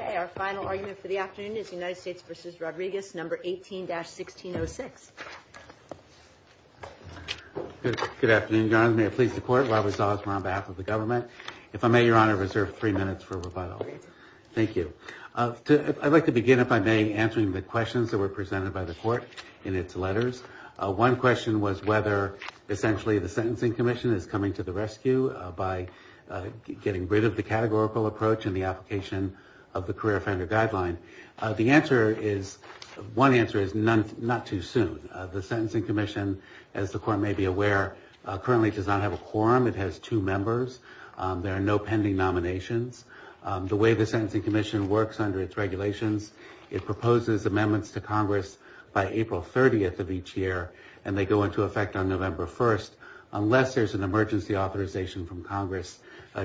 Okay, our final argument for the afternoon is United States v. Rodriguez, No. 18-1606. Good afternoon, Your Honor. May it please the Court, Robert Zales, we're on behalf of the government. If I may, Your Honor, reserve three minutes for rebuttal. Thank you. I'd like to begin, if I may, answering the questions that were presented by the Court in its letters. One question was whether essentially the Sentencing Commission is coming to the rescue by getting rid of the categorical approach in the application of the Career Offender Guideline. The answer is, one answer is, not too soon. The Sentencing Commission, as the Court may be aware, currently does not have a quorum. It has two members. There are no pending nominations. The way the Sentencing Commission works under its regulations, it proposes amendments to Congress by April 30th of each year, and they go into effect on November 1st, unless there's an emergency authorization from Congress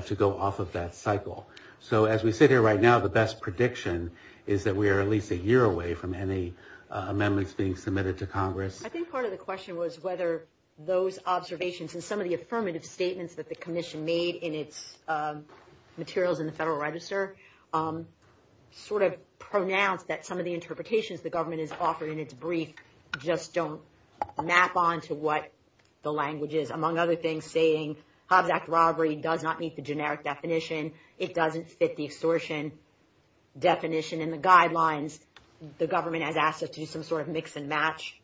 to go off of that cycle. So as we sit here right now, the best prediction is that we are at least a year away from any amendments being submitted to Congress. I think part of the question was whether those observations and some of the affirmative statements that the Commission made in its materials in the Federal Register sort of pronounced that some of the interpretations the government has offered in its brief just don't map on to what the language is. Among other things, Hobbs Act robbery does not meet the generic definition. It doesn't fit the extortion definition in the guidelines. The government has asked us to do some sort of mix and match.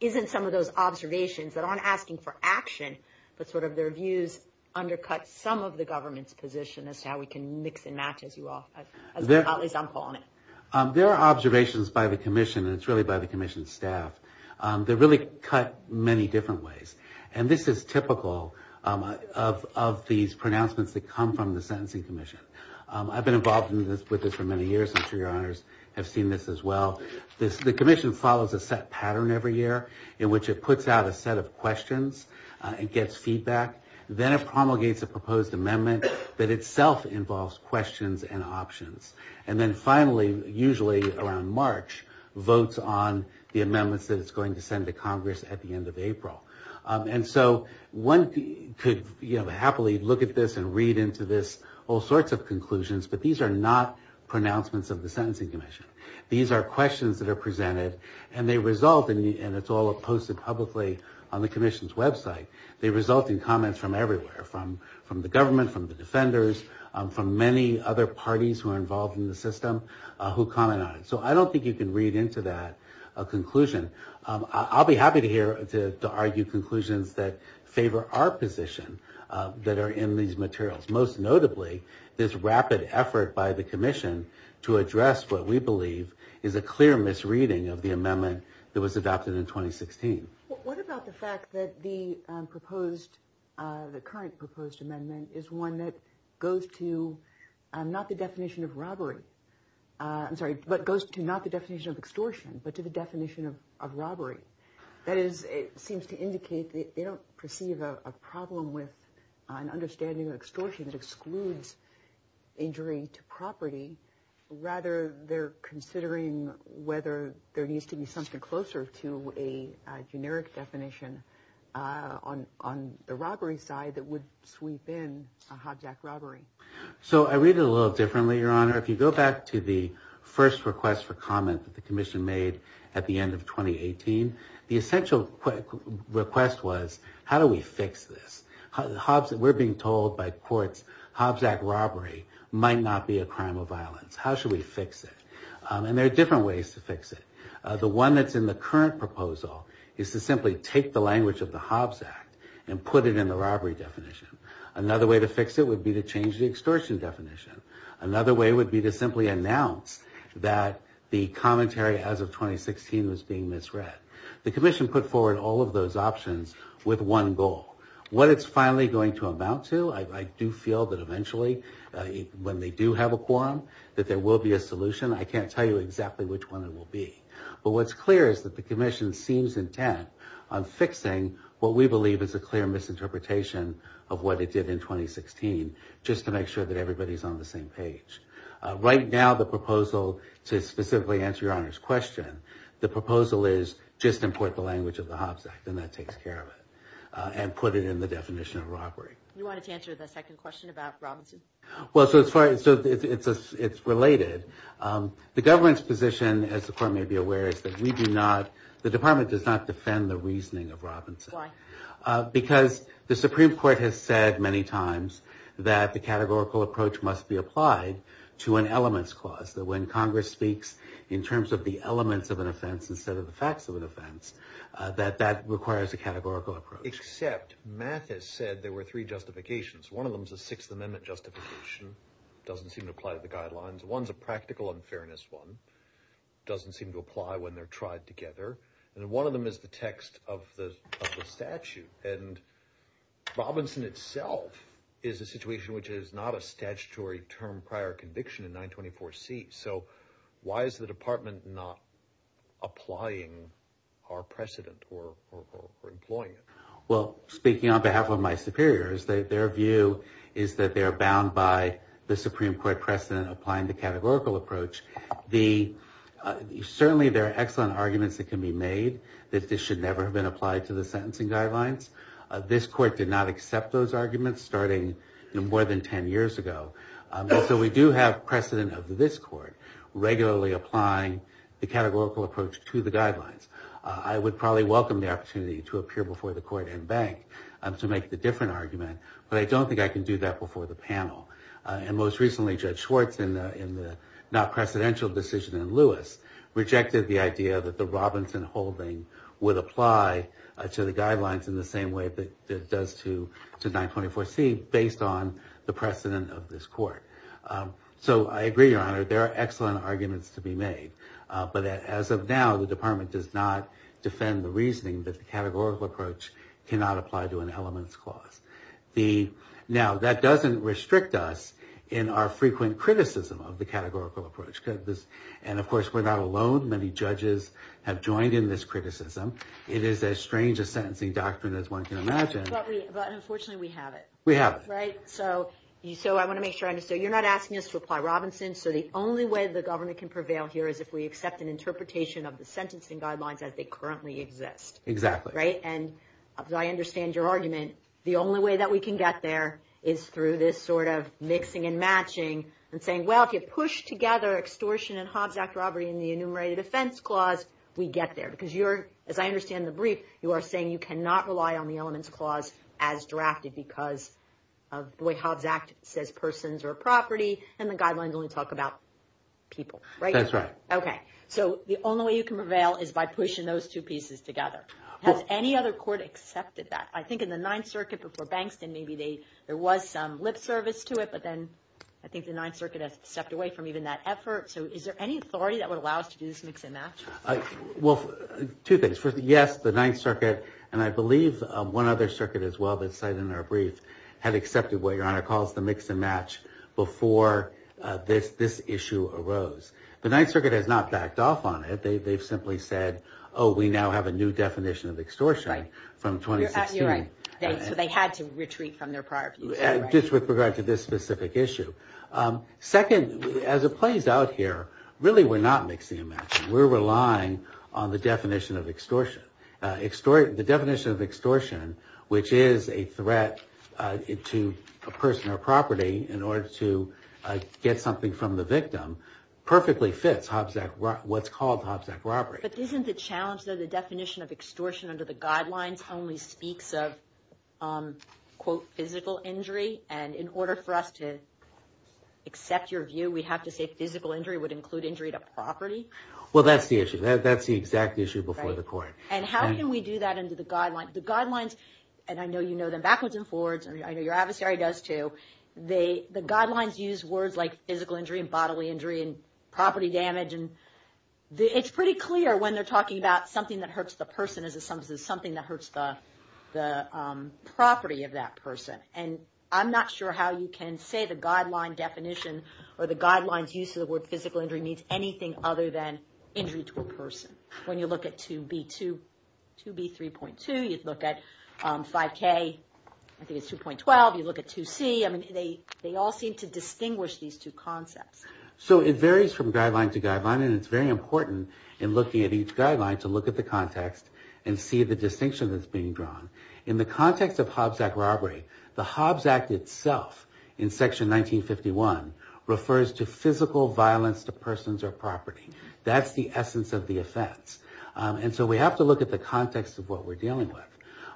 Isn't some of those observations that aren't asking for action, but sort of their views, undercut some of the government's position as to how we can mix and match, as you all, at least I'm calling it. There are observations by the Commission, and it's really by the of these pronouncements that come from the Sentencing Commission. I've been involved with this for many years. I'm sure your honors have seen this as well. The Commission follows a set pattern every year in which it puts out a set of questions and gets feedback. Then it promulgates a proposed amendment that itself involves questions and options. And then finally, usually around March, votes on the amendments that it's going to send to Congress at the end of April. And so one could happily look at this and read into this all sorts of conclusions, but these are not pronouncements of the Sentencing Commission. These are questions that are presented and they result in, and it's all posted publicly on the Commission's website, they result in comments from everywhere, from the government, from the defenders, from many other parties who are involved in the system who comment on it. So I don't think you can read into that a conclusion. I'll be happy to hear, to argue conclusions that favor our position that are in these materials. Most notably, this rapid effort by the Commission to address what we believe is a clear misreading of the amendment that was adopted in 2016. What about the fact that the proposed, the current proposed amendment is one that goes to not the definition of robbery, I'm sorry, but goes to not the definition of extortion, but to the definition of robbery. That is, it seems to indicate that they don't perceive a problem with an understanding of extortion that excludes injury to property. Rather, they're considering whether there needs to be something closer to a generic definition on the robbery side that would sweep in a Hobbs Act robbery. So I read it a little differently, Your Honor. If you go back to the first request for comment that the Commission made at the end of 2018, the essential request was, how do we fix this? Hobbs, we're being told by courts, Hobbs Act robbery might not be a crime of violence. How should we fix it? And there are different ways to fix it. The one that's in the current proposal is to simply take the language of the Hobbs Act and put it in the robbery definition. Another way to fix it would be to change the extortion definition. Another way would be to simply announce that the commentary as of 2016 was being misread. The Commission put forward all of those options with one goal. What it's finally going to amount to, I do feel that eventually, when they do have a quorum, that there will be a solution. I can't tell you exactly which one it will be. But what's clear is that the Commission seems intent on fixing what we believe is a clear misinterpretation of what it did in 2016, just to make sure that everybody's on the same page. Right now, the proposal, to specifically answer Your Honor's question, the proposal is just import the language of the Hobbs Act, and that takes care of it, and put it in the definition of robbery. You wanted to answer the second question about Robinson? Well, so it's related. The government's position, as the Court may be aware, is that we do not, the Department does not defend the reasoning of Robinson. Why? Because the Supreme Court has said many times that the categorical approach must be applied to an elements clause, that when Congress speaks in terms of the elements of an offense instead of the facts of an offense, that that requires a categorical approach. Except, math has said there were three justifications. One of them is a Sixth Amendment justification, doesn't seem to apply to the guidelines. One's a practical unfairness one, doesn't seem to apply when they're tried together, and one of them is the text of the of the statute, and Robinson itself is a situation which is not a statutory term prior conviction in 924C. So, why is the Department not applying our precedent or employing it? Well, speaking on behalf of my superiors, their view is that they are bound by the Supreme Court precedent applying the categorical approach. Certainly, there are excellent arguments that can be made that this should never have been applied to the sentencing guidelines. This Court did not accept those arguments starting more than 10 years ago. So, we do have precedent of this Court regularly applying the categorical approach to the guidelines. I would probably welcome the opportunity to appear before the but I don't think I can do that before the panel. And most recently, Judge Schwartz, in the not-precedential decision in Lewis, rejected the idea that the Robinson holding would apply to the guidelines in the same way that it does to 924C, based on the precedent of this Court. So, I agree, Your Honor, there are excellent arguments to be made, but as of now, the Department does not defend the reasoning that the categorical approach cannot apply to an elements clause. Now, that doesn't restrict us in our frequent criticism of the categorical approach. And, of course, we're not alone. Many judges have joined in this criticism. It is as strange a sentencing doctrine as one can imagine. But unfortunately, we have it. We have it. Right? So, I want to make sure I understand. You're not asking us to apply Robinson. So, the only way the government can prevail here is if we accept an interpretation of the sentencing guidelines as they currently exist. Exactly. Right? And I understand your argument. The only way that we can get there is through this sort of mixing and matching, and saying, well, if you push together extortion and Hobbs Act robbery in the enumerated offense clause, we get there. Because you're, as I understand the brief, you are saying you cannot rely on the elements clause as drafted because of the way Hobbs Act says persons are property, and the guidelines only talk about people. Right? That's right. Okay. So, the only way you can prevail is by pushing those two pieces together. Has any other Court accepted that? I think in the Ninth Circuit before Bankston, maybe they, there was some lip service to it, but then I think the Ninth Circuit has stepped away from even that effort. So, is there any authority that would allow us to do this mix and match? Well, two things. First, yes, the Ninth Circuit, and I believe one other circuit as well that's cited in our brief, had accepted what Your Honor calls the mix and match before this issue arose. The Ninth Circuit has not backed off on it. They've simply said, oh, we now have a new Right. So, they had to retreat from their prior views. Just with regard to this specific issue. Second, as it plays out here, really we're not mixing and matching. We're relying on the definition of extortion. The definition of extortion, which is a threat to a person or property in order to get something from the victim, perfectly fits Hobbs Act, what's called Hobbs Act robbery. But isn't the challenge, though, the definition of extortion under the guidelines only speaks of, quote, physical injury? And in order for us to accept your view, we have to say physical injury would include injury to property? Well, that's the issue. That's the exact issue before the court. And how can we do that under the guidelines? The guidelines, and I know you know them backwards and forwards, and I know your adversary does too, the guidelines use words like physical injury and bodily injury and property damage. And it's pretty clear when they're talking about something that hurts the person, something that hurts the property of that person. And I'm not sure how you can say the guideline definition or the guidelines use of the word physical injury means anything other than injury to a person. When you look at 2B3.2, you look at 5K, I think it's 2.12, you look at 2C, I mean, they all seem to distinguish these two concepts. So it varies from guideline to guideline, and it's very important in looking at each and see the distinction that's being drawn. In the context of Hobbs Act robbery, the Hobbs Act itself in section 1951 refers to physical violence to persons or property. That's the essence of the offense. And so we have to look at the context of what we're dealing with.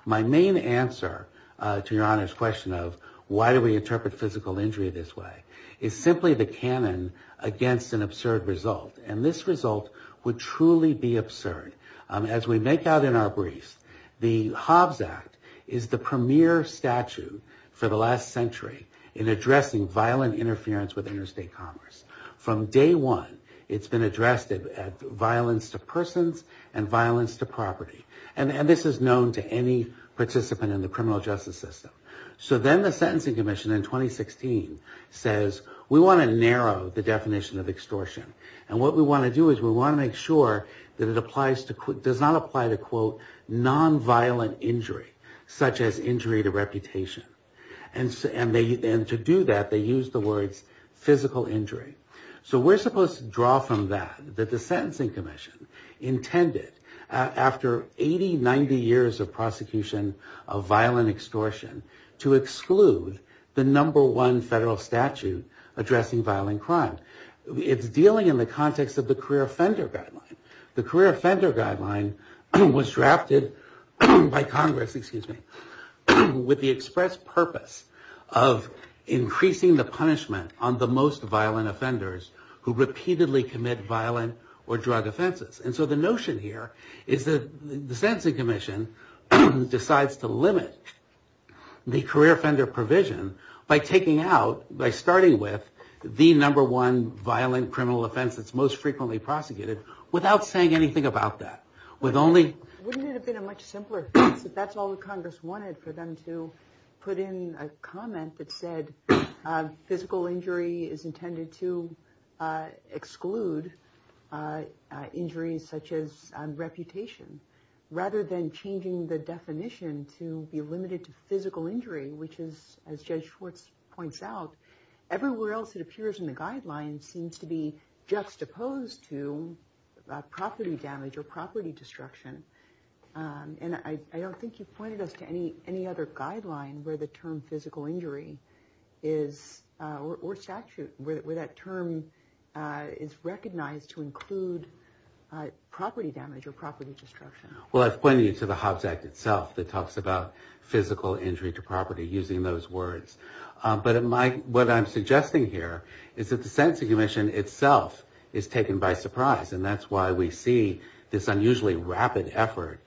My main answer to your Honor's question of why do we interpret physical injury this way is simply the canon against an absurd result. And this result would truly be absurd. As we make out in our briefs, the Hobbs Act is the premier statute for the last century in addressing violent interference with interstate commerce. From day one, it's been addressed at violence to persons and violence to property. And this is known to any participant in the criminal justice system. So then the Sentencing Commission in 2016 says we want to narrow the definition of does not apply to, quote, nonviolent injury, such as injury to reputation. And to do that, they use the words physical injury. So we're supposed to draw from that, that the Sentencing Commission intended after 80, 90 years of prosecution of violent extortion to exclude the number one federal statute addressing violent crime. It's dealing in the context of the career offender guideline. The career offender guideline was drafted by Congress, excuse me, with the express purpose of increasing the punishment on the most violent offenders who repeatedly commit violent or drug offenses. And so the notion here is that the Sentencing Commission decides to limit the career offender provision by taking out, by starting with, the number one violent criminal offense that's most frequently prosecuted without saying anything about that. With only... Wouldn't it have been a much simpler case if that's all that Congress wanted for them to put in a comment that said physical injury is intended to exclude injuries such as reputation, rather than changing the definition to be limited to physical injury, which is, as Judge Schwartz points out, everywhere else it appears in the guideline seems to be juxtaposed to property damage or property destruction. And I don't think you've pointed us to any other guideline where the term physical injury is, or statute, where that term is recognized to include property damage or property destruction. Well, I've pointed you to the Hobbs Act itself that talks about physical injury to property using those words. But what I'm suggesting here is that the Sentencing Commission itself is taken by surprise, and that's why we see this unusually rapid effort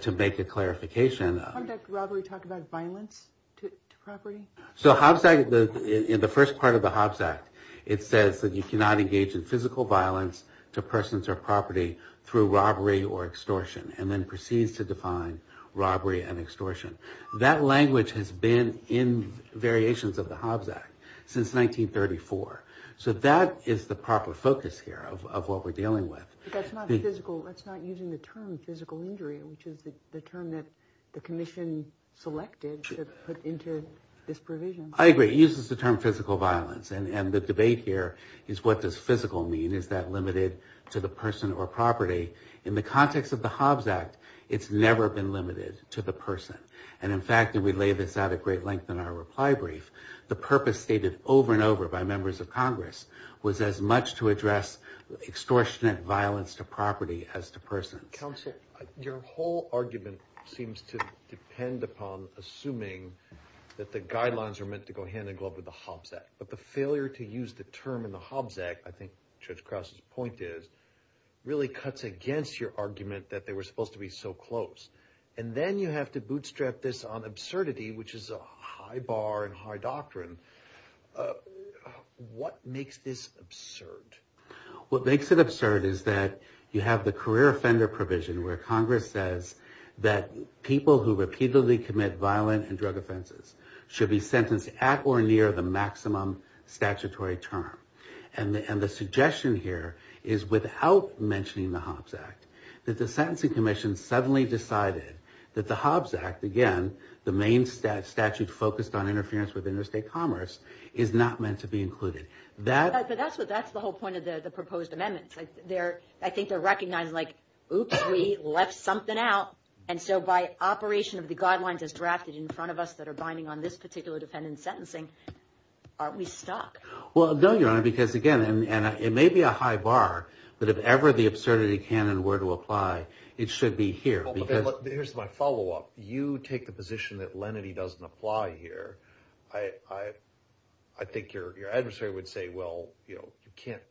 to make a clarification of... Can't that robbery talk about violence to property? So Hobbs Act, in the first part of the Hobbs Act, it says that you cannot engage in physical violence to persons or property through robbery or extortion, and then proceeds to define robbery and extortion. That language has been in variations of the Hobbs Act since 1934. So that is the proper focus here of what we're dealing with. But that's not physical. That's not using the term physical injury, which is the term that the Commission selected to put into this provision. I agree. It uses the term physical violence. And the debate here is what does physical mean? Is that limited to the person or property? In the context of the Hobbs Act, it's never been limited to the person. And in fact, and we lay this out at great length in our reply brief, the purpose stated over and over by members of Congress was as much to address extortionate violence to property as to persons. Counsel, your whole argument seems to depend upon assuming that the guidelines are meant to go hand in glove with the Hobbs Act. But the failure to use the term in the Hobbs Act, I think Judge Crouse's point is, really cuts against your argument that they were supposed to be so close. And then you have to bootstrap this on absurdity, which is a high bar and high doctrine. What makes this absurd? What makes it absurd is that you have the career offender provision where Congress says that people who repeatedly commit violent and drug offenses should be sentenced at or And the suggestion here is without mentioning the Hobbs Act, that the Sentencing Commission suddenly decided that the Hobbs Act, again, the main statute focused on interference with interstate commerce, is not meant to be included. But that's the whole point of the proposed amendments. I think they're recognizing like, oops, we left something out. And so by operation of the guidelines as drafted in front of us that are binding on this particular defendant's sentencing, aren't we stuck? Well, no, Your Honor, because again, and it may be a high bar, but if ever the absurdity can and were to apply, it should be here. Here's my follow up. You take the position that lenity doesn't apply here. I think your adversary would say, well, you know,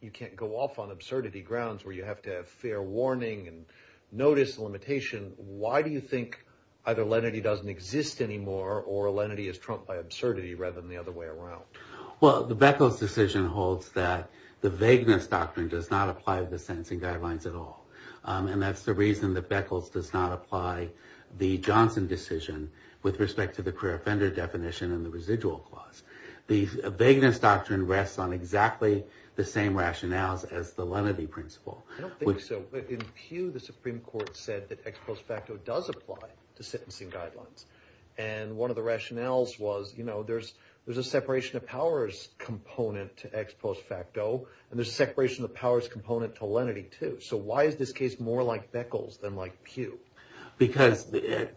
you can't go off on absurdity grounds where you have to have fair warning and notice the limitation. Why do you think either lenity doesn't exist anymore or lenity is trumped by absurdity rather than the other way around? Well, the Beckles decision holds that the vagueness doctrine does not apply to the sentencing guidelines at all. And that's the reason that Beckles does not apply the Johnson decision with respect to the queer offender definition and the residual clause. The vagueness doctrine rests on exactly the same rationales as the lenity principle. I don't think so. In Peugh, the Supreme Court said that ex post facto does apply to sentencing guidelines. And one of the rationales was, you know, there's a separation of powers component to ex post facto and there's a separation of powers component to lenity, too. So why is this case more like Beckles than like Peugh? Because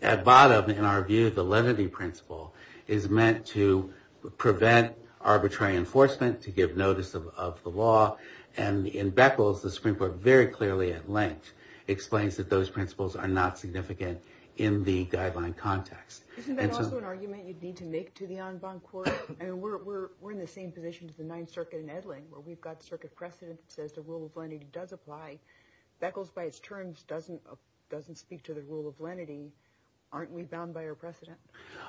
at bottom, in our view, the lenity principle is meant to prevent arbitrary enforcement to give notice of the law. And in Beckles, the Supreme Court very clearly at length explains that those principles are not significant in the guideline context. Isn't that also an argument you'd need to make to the en banc court? And we're in the same position as the Ninth Circuit in Edling, where we've got circuit precedent that says the rule of lenity does apply. Beckles, by its terms, doesn't speak to the rule of lenity. Aren't we bound by our precedent?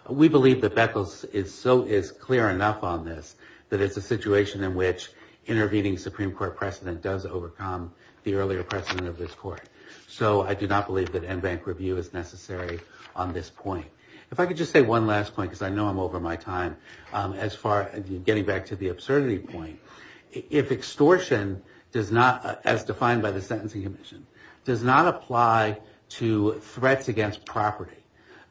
We believe that Beckles is clear enough on this that it's a situation in which intervening Supreme Court precedent does overcome the earlier precedent of this court. So I do not believe that en banc review is necessary on this point. If I could just say one last point, because I know I'm over my time as far as getting back to the absurdity point. If extortion does not, as defined by the Sentencing Commission, does not apply to threats against property,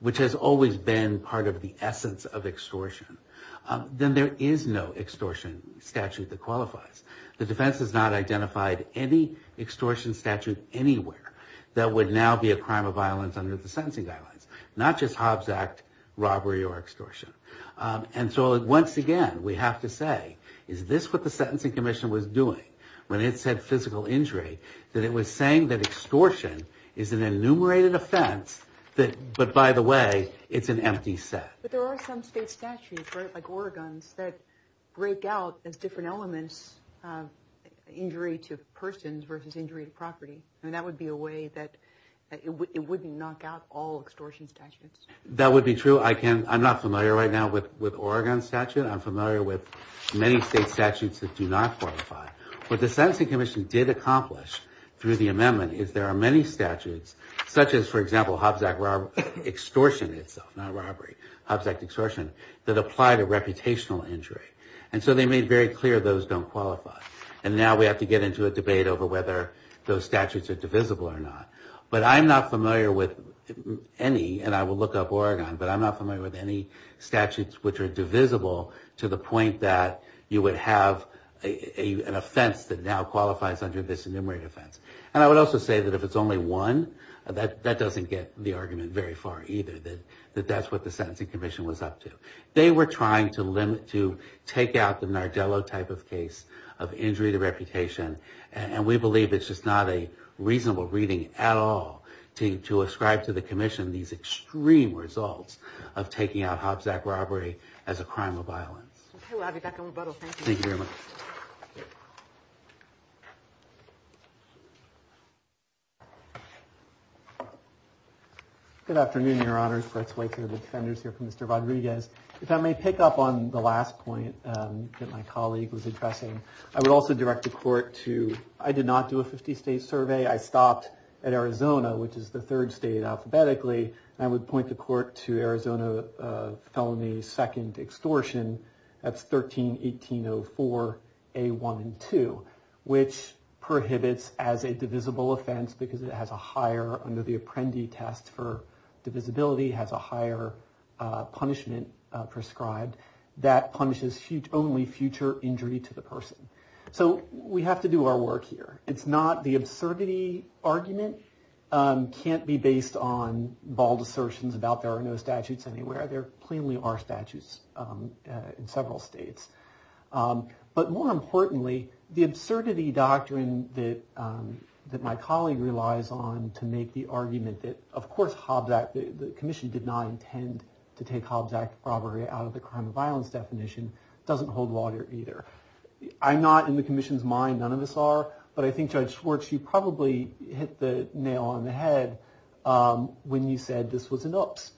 which has always been part of the essence of extortion, the defense has not identified any extortion statute anywhere that would now be a crime of violence under the sentencing guidelines. Not just Hobbs Act robbery or extortion. And so once again, we have to say, is this what the Sentencing Commission was doing when it said physical injury? That it was saying that extortion is an enumerated offense, but by the way, it's an empty set. But there are some state statutes, right, like Oregon's, that break out as different elements injury to persons versus injury to property. And that would be a way that it wouldn't knock out all extortion statutes. That would be true. I'm not familiar right now with Oregon's statute. I'm familiar with many state statutes that do not qualify. What the Sentencing Commission did accomplish through the amendment is there are many statutes, such as, for example, Hobbs Act extortion itself, not robbery, Hobbs Act extortion, that apply to reputational injury. And so they made very clear those don't qualify. And now we have to get into a debate over whether those statutes are divisible or not. But I'm not familiar with any, and I will look up Oregon, but I'm not familiar with any statutes which are divisible to the point that you would have an offense that now qualifies under this enumerated offense. And I would also say that if it's only one, that doesn't get the argument very far either, that that's what the Sentencing Commission was up to. They were trying to limit, to take out the Nardello type of case of injury to reputation. And we believe it's just not a reasonable reading at all to ascribe to the Commission these extreme results of taking out Hobbs Act robbery as a crime of violence. Okay, we'll be back on rebuttal. Thank you. Thank you very much. Good afternoon, Your Honors. Brett Schweitzer of the Defenders here for Mr. Rodriguez. If I may pick up on the last point that my colleague was addressing, I would also direct the court to, I did not do a 50 state survey. I stopped at Arizona, which is the third state alphabetically. I would point the court to Arizona felony second extortion. That's 13-1804A1-2, which prohibits as a divisible offense because it has a higher, under the Apprendi test for divisibility, has a higher punishment prescribed that punishes only future injury to the person. So we have to do our work here. The absurdity argument can't be based on bald assertions about there are no statutes anywhere. There plainly are statutes in several states. But more importantly, the absurdity doctrine that my colleague relies on to make the argument that, of course, Hobbs Act, the Commission did not intend to take Hobbs Act robbery out of the crime of violence definition, doesn't hold water either. I'm not in the Commission's mind, none of us are, but I think Judge Schwartz, you probably hit the nail on the head when you said this was an oops.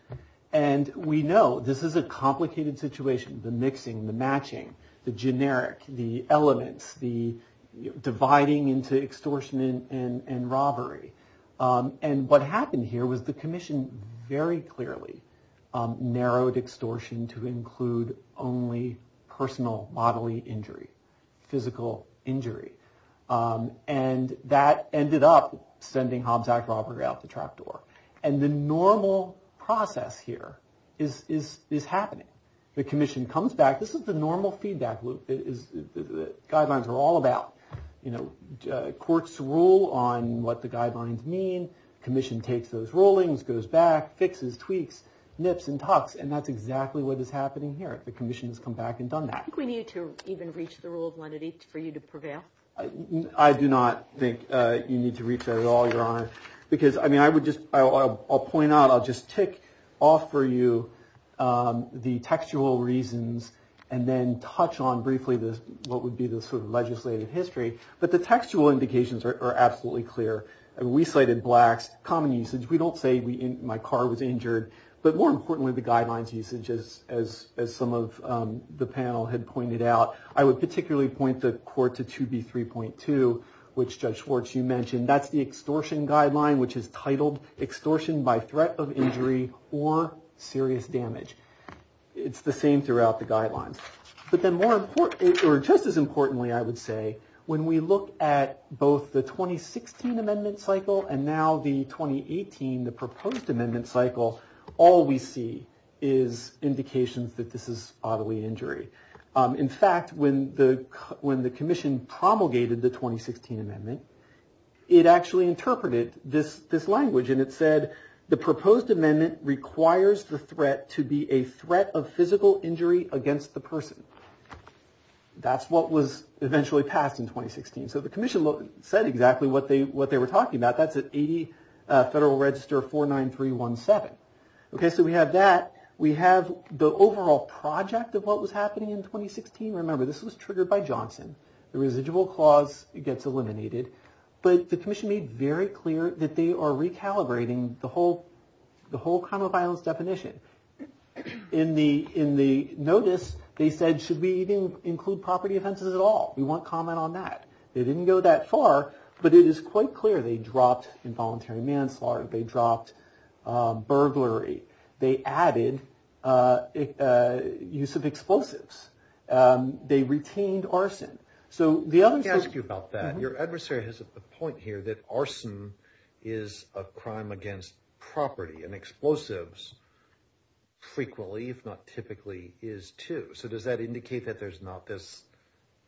And we know this is a complicated situation. The mixing, the matching, the generic, the elements, the dividing into extortion and robbery. And what happened here was the Commission very clearly narrowed extortion to include only personal bodily injury, physical injury. And that ended up sending Hobbs Act robbery out the trap door. And the normal process here is happening. The Commission comes back, this is the normal feedback loop. Guidelines are all about, you know, courts rule on what the guidelines mean. Commission takes those rulings, goes back, fixes, tweaks, nips and tucks. And that's exactly what is happening here. The Commission has come back and done that. I think we need to even reach the rule of lenity for you to prevail. I do not think you need to reach that at all, Your Honor. Because, I mean, I would just, I'll point out, I'll just tick off for you the textual reasons and then touch on briefly what would be the sort of legislative history. But the textual indications are absolutely clear. We cited blacks, common usage. We don't say my car was injured. But more importantly, the guidelines usage, as some of the panel had pointed out. I would particularly point the court to 2B3.2, which Judge Schwartz, you mentioned. That's the extortion guideline, which is titled, extortion by threat of injury or serious damage. It's the same throughout the guidelines. But then more important, or just as importantly, I would say, when we look at both the 2016 amendment cycle and now the 2018, the proposed amendment cycle, all we see is indications that this is bodily injury. In fact, when the commission promulgated the 2016 amendment, it actually interpreted this language. And it said, the proposed amendment requires the threat to be a threat of physical injury against the person. That's what was eventually passed in 2016. So the commission said exactly what they were talking about. That's at 80 Federal Register 49317. Okay, so we have that. Project of what was happening in 2016. Remember, this was triggered by Johnson. The residual clause gets eliminated. But the commission made very clear that they are recalibrating the whole crime of violence definition. In the notice, they said, should we even include property offenses at all? We want comment on that. They didn't go that far. But it is quite clear they dropped involuntary manslaughter. They dropped burglary. They added use of explosives. They retained arson. So the other... Let me ask you about that. Your adversary has a point here that arson is a crime against property. And explosives frequently, if not typically, is too. So does that indicate that there's not this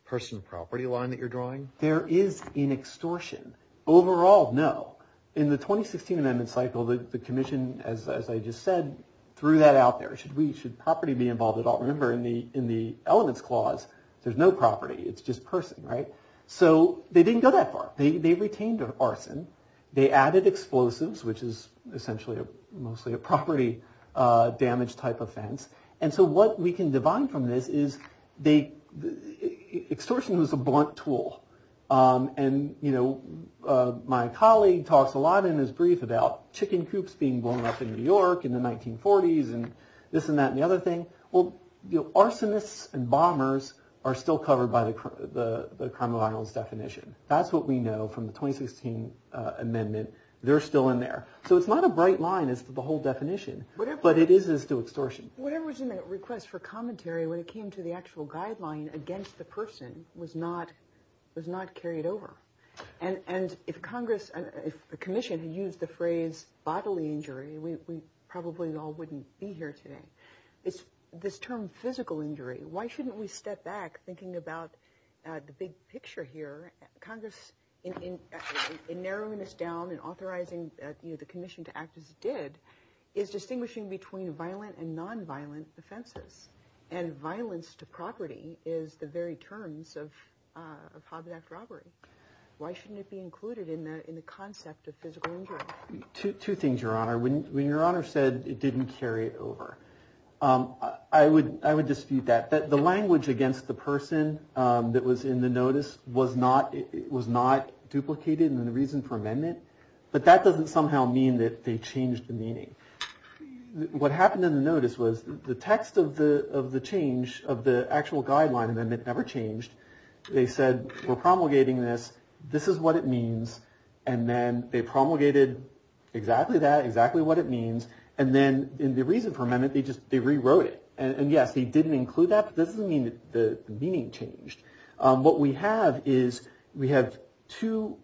person property line that you're drawing? There is in extortion. Overall, no. In the 2016 amendment cycle, the commission, as I just said, threw that out there. Should property be involved at all? Remember, in the elements clause, there's no property. It's just person, right? So they didn't go that far. They retained arson. They added explosives, which is essentially mostly a property damage type offense. And so what we can divine from this is extortion was a blunt tool. And my colleague talks a lot in his brief about chicken coops being blown up in New York in the 1940s and this and that and the other thing. Well, arsonists and bombers are still covered by the Crime of Violence definition. That's what we know from the 2016 amendment. They're still in there. So it's not a bright line as to the whole definition. But it is as to extortion. Whatever was in that request for commentary when it came to the actual guideline against the person was not carried over. And if a commission had used the phrase bodily injury, we probably all wouldn't be here today. This term physical injury, why shouldn't we step back thinking about the big picture here? Congress, in narrowing this down and authorizing the commission to act as it did, is distinguishing between violent and nonviolent offenses. And violence to property is the very terms of Hobbs Act robbery. Why shouldn't it be included in the concept of physical injury? Two things, Your Honor. When Your Honor said it didn't carry it over, I would dispute that. The language against the person that was in the notice was not duplicated in the reason for amendment. But that doesn't somehow mean that they changed the meaning. What happened in the notice was the text of the change of the actual guideline amendment never changed. They said, we're promulgating this. This is what it means. And then they promulgated exactly that, exactly what it means. And then in the reason for amendment, they rewrote it. And yes, they didn't include that. But this doesn't mean that the meaning changed. What we have is we have two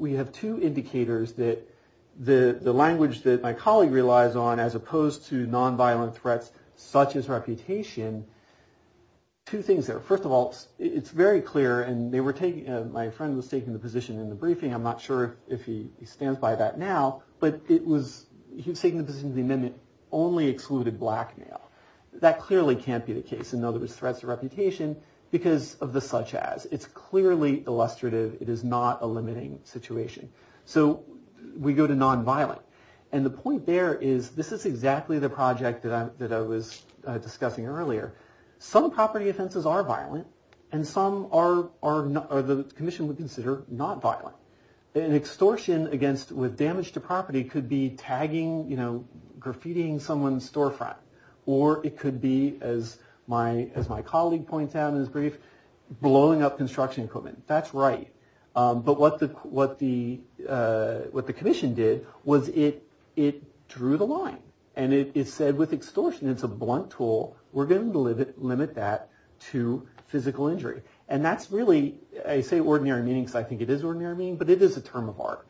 indicators that the language that my colleague relies on, as opposed to nonviolent threats such as reputation, two things there. First of all, it's very clear. And my friend was taking the position in the briefing. I'm not sure if he stands by that now. But he was taking the position that the amendment only excluded blackmail. That clearly can't be the case, in other words, threats of reputation. Because of the such as. It's clearly illustrative. It is not a limiting situation. So we go to nonviolent. And the point there is, this is exactly the project that I was discussing earlier. Some property offenses are violent. And some are, the commission would consider, not violent. An extortion against, with damage to property, could be tagging, graffitying someone's storefront. Or it could be, as my colleague points out in his brief, blowing up construction equipment. That's right. But what the commission did was it drew the line. And it said, with extortion, it's a blunt tool. We're going to limit that to physical injury. And that's really, I say ordinary meaning because I think it is ordinary meaning. But it is a term of art.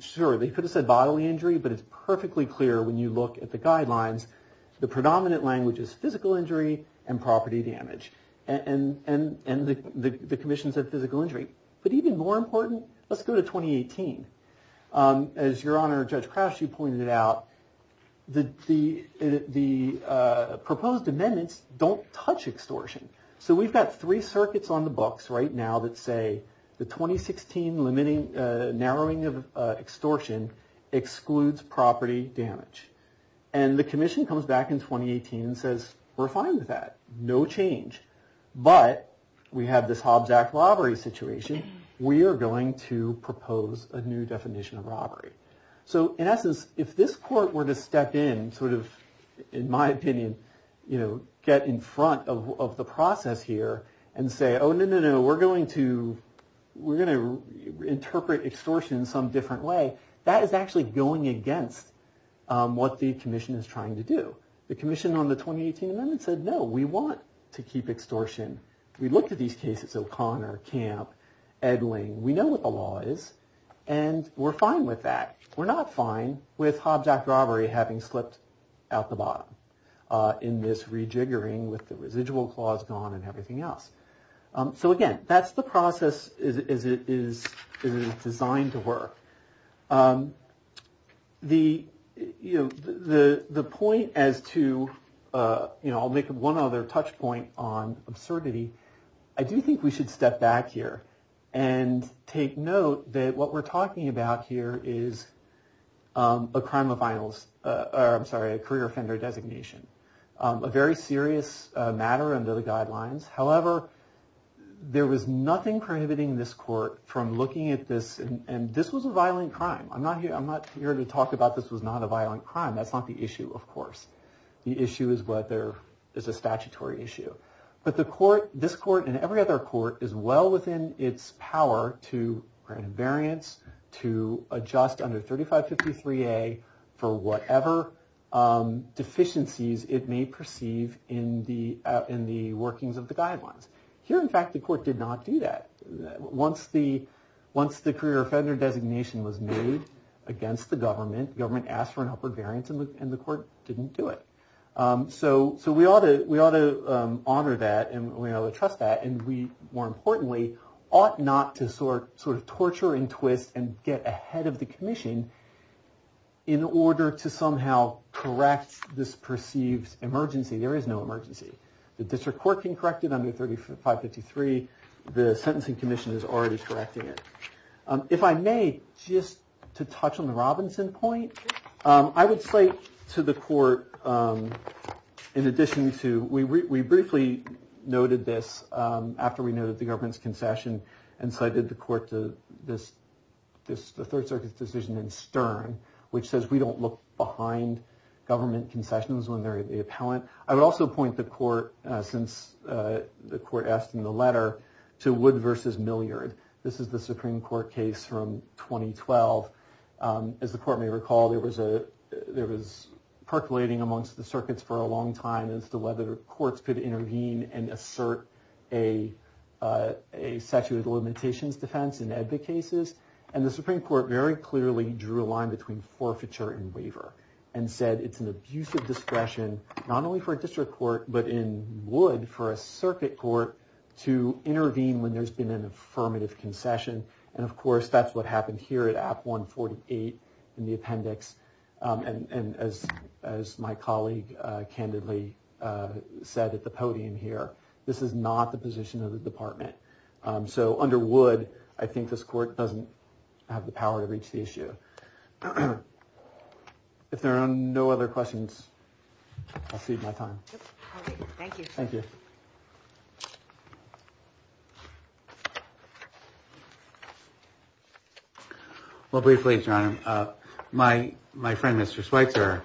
Sure, they could have said bodily injury. But it's perfectly clear when you look at the guidelines, the predominant language is physical injury and property damage. And the commission said physical injury. But even more important, let's go to 2018. As Your Honor, Judge Crouch, you pointed out, the proposed amendments don't touch extortion. So we've got three circuits on the books right now that say, the 2016 narrowing of extortion excludes property damage. And the commission comes back in 2018 and says, we're fine with that. No change. But we have this Hobbs Act robbery situation. We are going to propose a new definition of robbery. So in essence, if this court were to step in, sort of, in my opinion, get in front of the process here and say, no, no, no, we're going to interpret extortion in some different way, that is actually going against what the commission is trying to do. The commission on the 2018 amendment said, no, we want to keep extortion. We looked at these cases, O'Connor, Camp, Edling. We know what the law is. And we're fine with that. We're not fine with Hobbs Act robbery having slipped out the bottom in this rejiggering with the residual clause gone and everything else. So again, that's the process as it is designed to work. The, you know, the point as to, you know, I'll make one other touch point on absurdity. I do think we should step back here and take note that what we're talking about here is a crime of finals, or I'm sorry, a career offender designation. A very serious matter under the guidelines. However, there was nothing prohibiting this court from looking at this, and this was a violent crime. I'm not here to talk about this was not a violent crime. That's not the issue, of course. The issue is whether it's a statutory issue. But the court, this court, and every other court is well within its power to grant invariance, to adjust under 3553A for whatever deficiencies it may perceive in the workings of the guidelines. Here, in fact, the court did not do that. Once the career offender designation was made against the government, government asked for an upward variance and the court didn't do it. So we ought to honor that and we ought to trust that. And we, more importantly, ought not to sort of torture and twist and get ahead of the commission in order to somehow correct this perceived emergency. There is no emergency. The district court can correct it under 3553. The sentencing commission is already correcting it. If I may, just to touch on the Robinson point, I would say to the court, in addition to, we briefly noted this after we noted the government's concession. And so I did the court to this, the Third Circuit's decision in Stern, which says we don't look behind government concessions when they're the appellant. I would also point the court, since the court asked in the letter, to Wood v. Milliard. This is the Supreme Court case from 2012. As the court may recall, there was percolating amongst the circuits for a long time as to whether courts could intervene and assert a statute of limitations defense in advocate cases. And the Supreme Court very clearly drew a line between forfeiture and waiver and said it's an abusive discretion, not only for a district court, but in Wood for a circuit court to intervene when there's been an affirmative concession. And of course, that's what happened here at App 148 in the appendix. And as my colleague candidly said at the podium here, this is not the position of the department. So under Wood, I think this court doesn't have the power to reach the issue. If there are no other questions, I'll cede my time. Yep. Okay. Thank you. Thank you. Well, briefly, John, my friend Mr. Schweitzer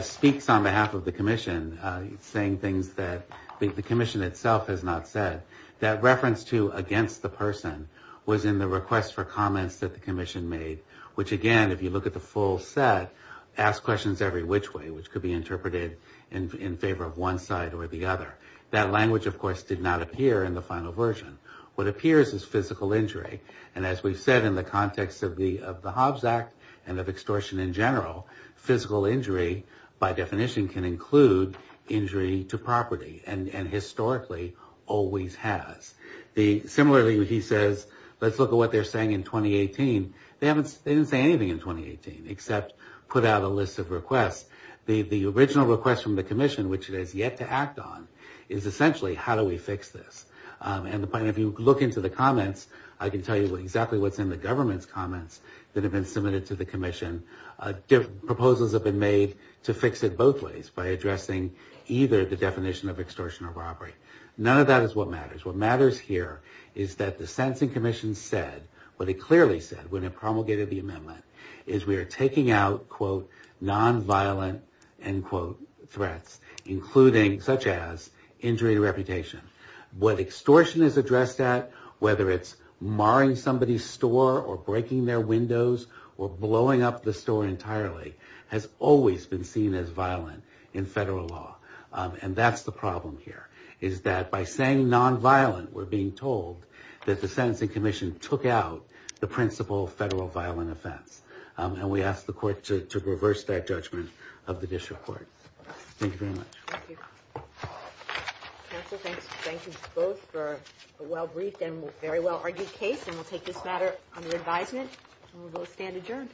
speaks on behalf of the commission, saying things that the commission itself has not said. That reference to against the person was in the request for comments that the commission made, which again, if you look at the full set, ask questions every which way, which could be interpreted in favor of one side or the other. That language, of course, did not appear in the final version. What appears is physical injury. And as we've said in the context of the Hobbs Act and of extortion in general, physical injury by definition can include injury to property and historically always has. Similarly, he says, let's look at what they're saying in 2018. They didn't say anything in 2018, except put out a list of requests. The original request from the commission, which it has yet to act on, is essentially, how do we fix this? And if you look into the comments, I can tell you exactly what's in the government's comments that have been submitted to the commission. Proposals have been made to fix it both ways by addressing either the definition of extortion or robbery. None of that is what matters. What matters here is that the sentencing commission said, what it clearly said when it promulgated the amendment, is we are taking out, quote, nonviolent, end quote, threats, including such as injury to reputation. What extortion is addressed at, whether it's marring somebody's store or breaking their windows or blowing up the store entirely, has always been seen as violent in federal law. And that's the problem here, is that by saying nonviolent, we're being told that the sentencing commission took out the principle federal violent offense. And we ask the court to reverse that judgment of the district court. Thank you very much. Thank you. Counsel, thank you both for a well-briefed and very well-argued case. And we'll take this matter under advisement. And we will stand adjourned.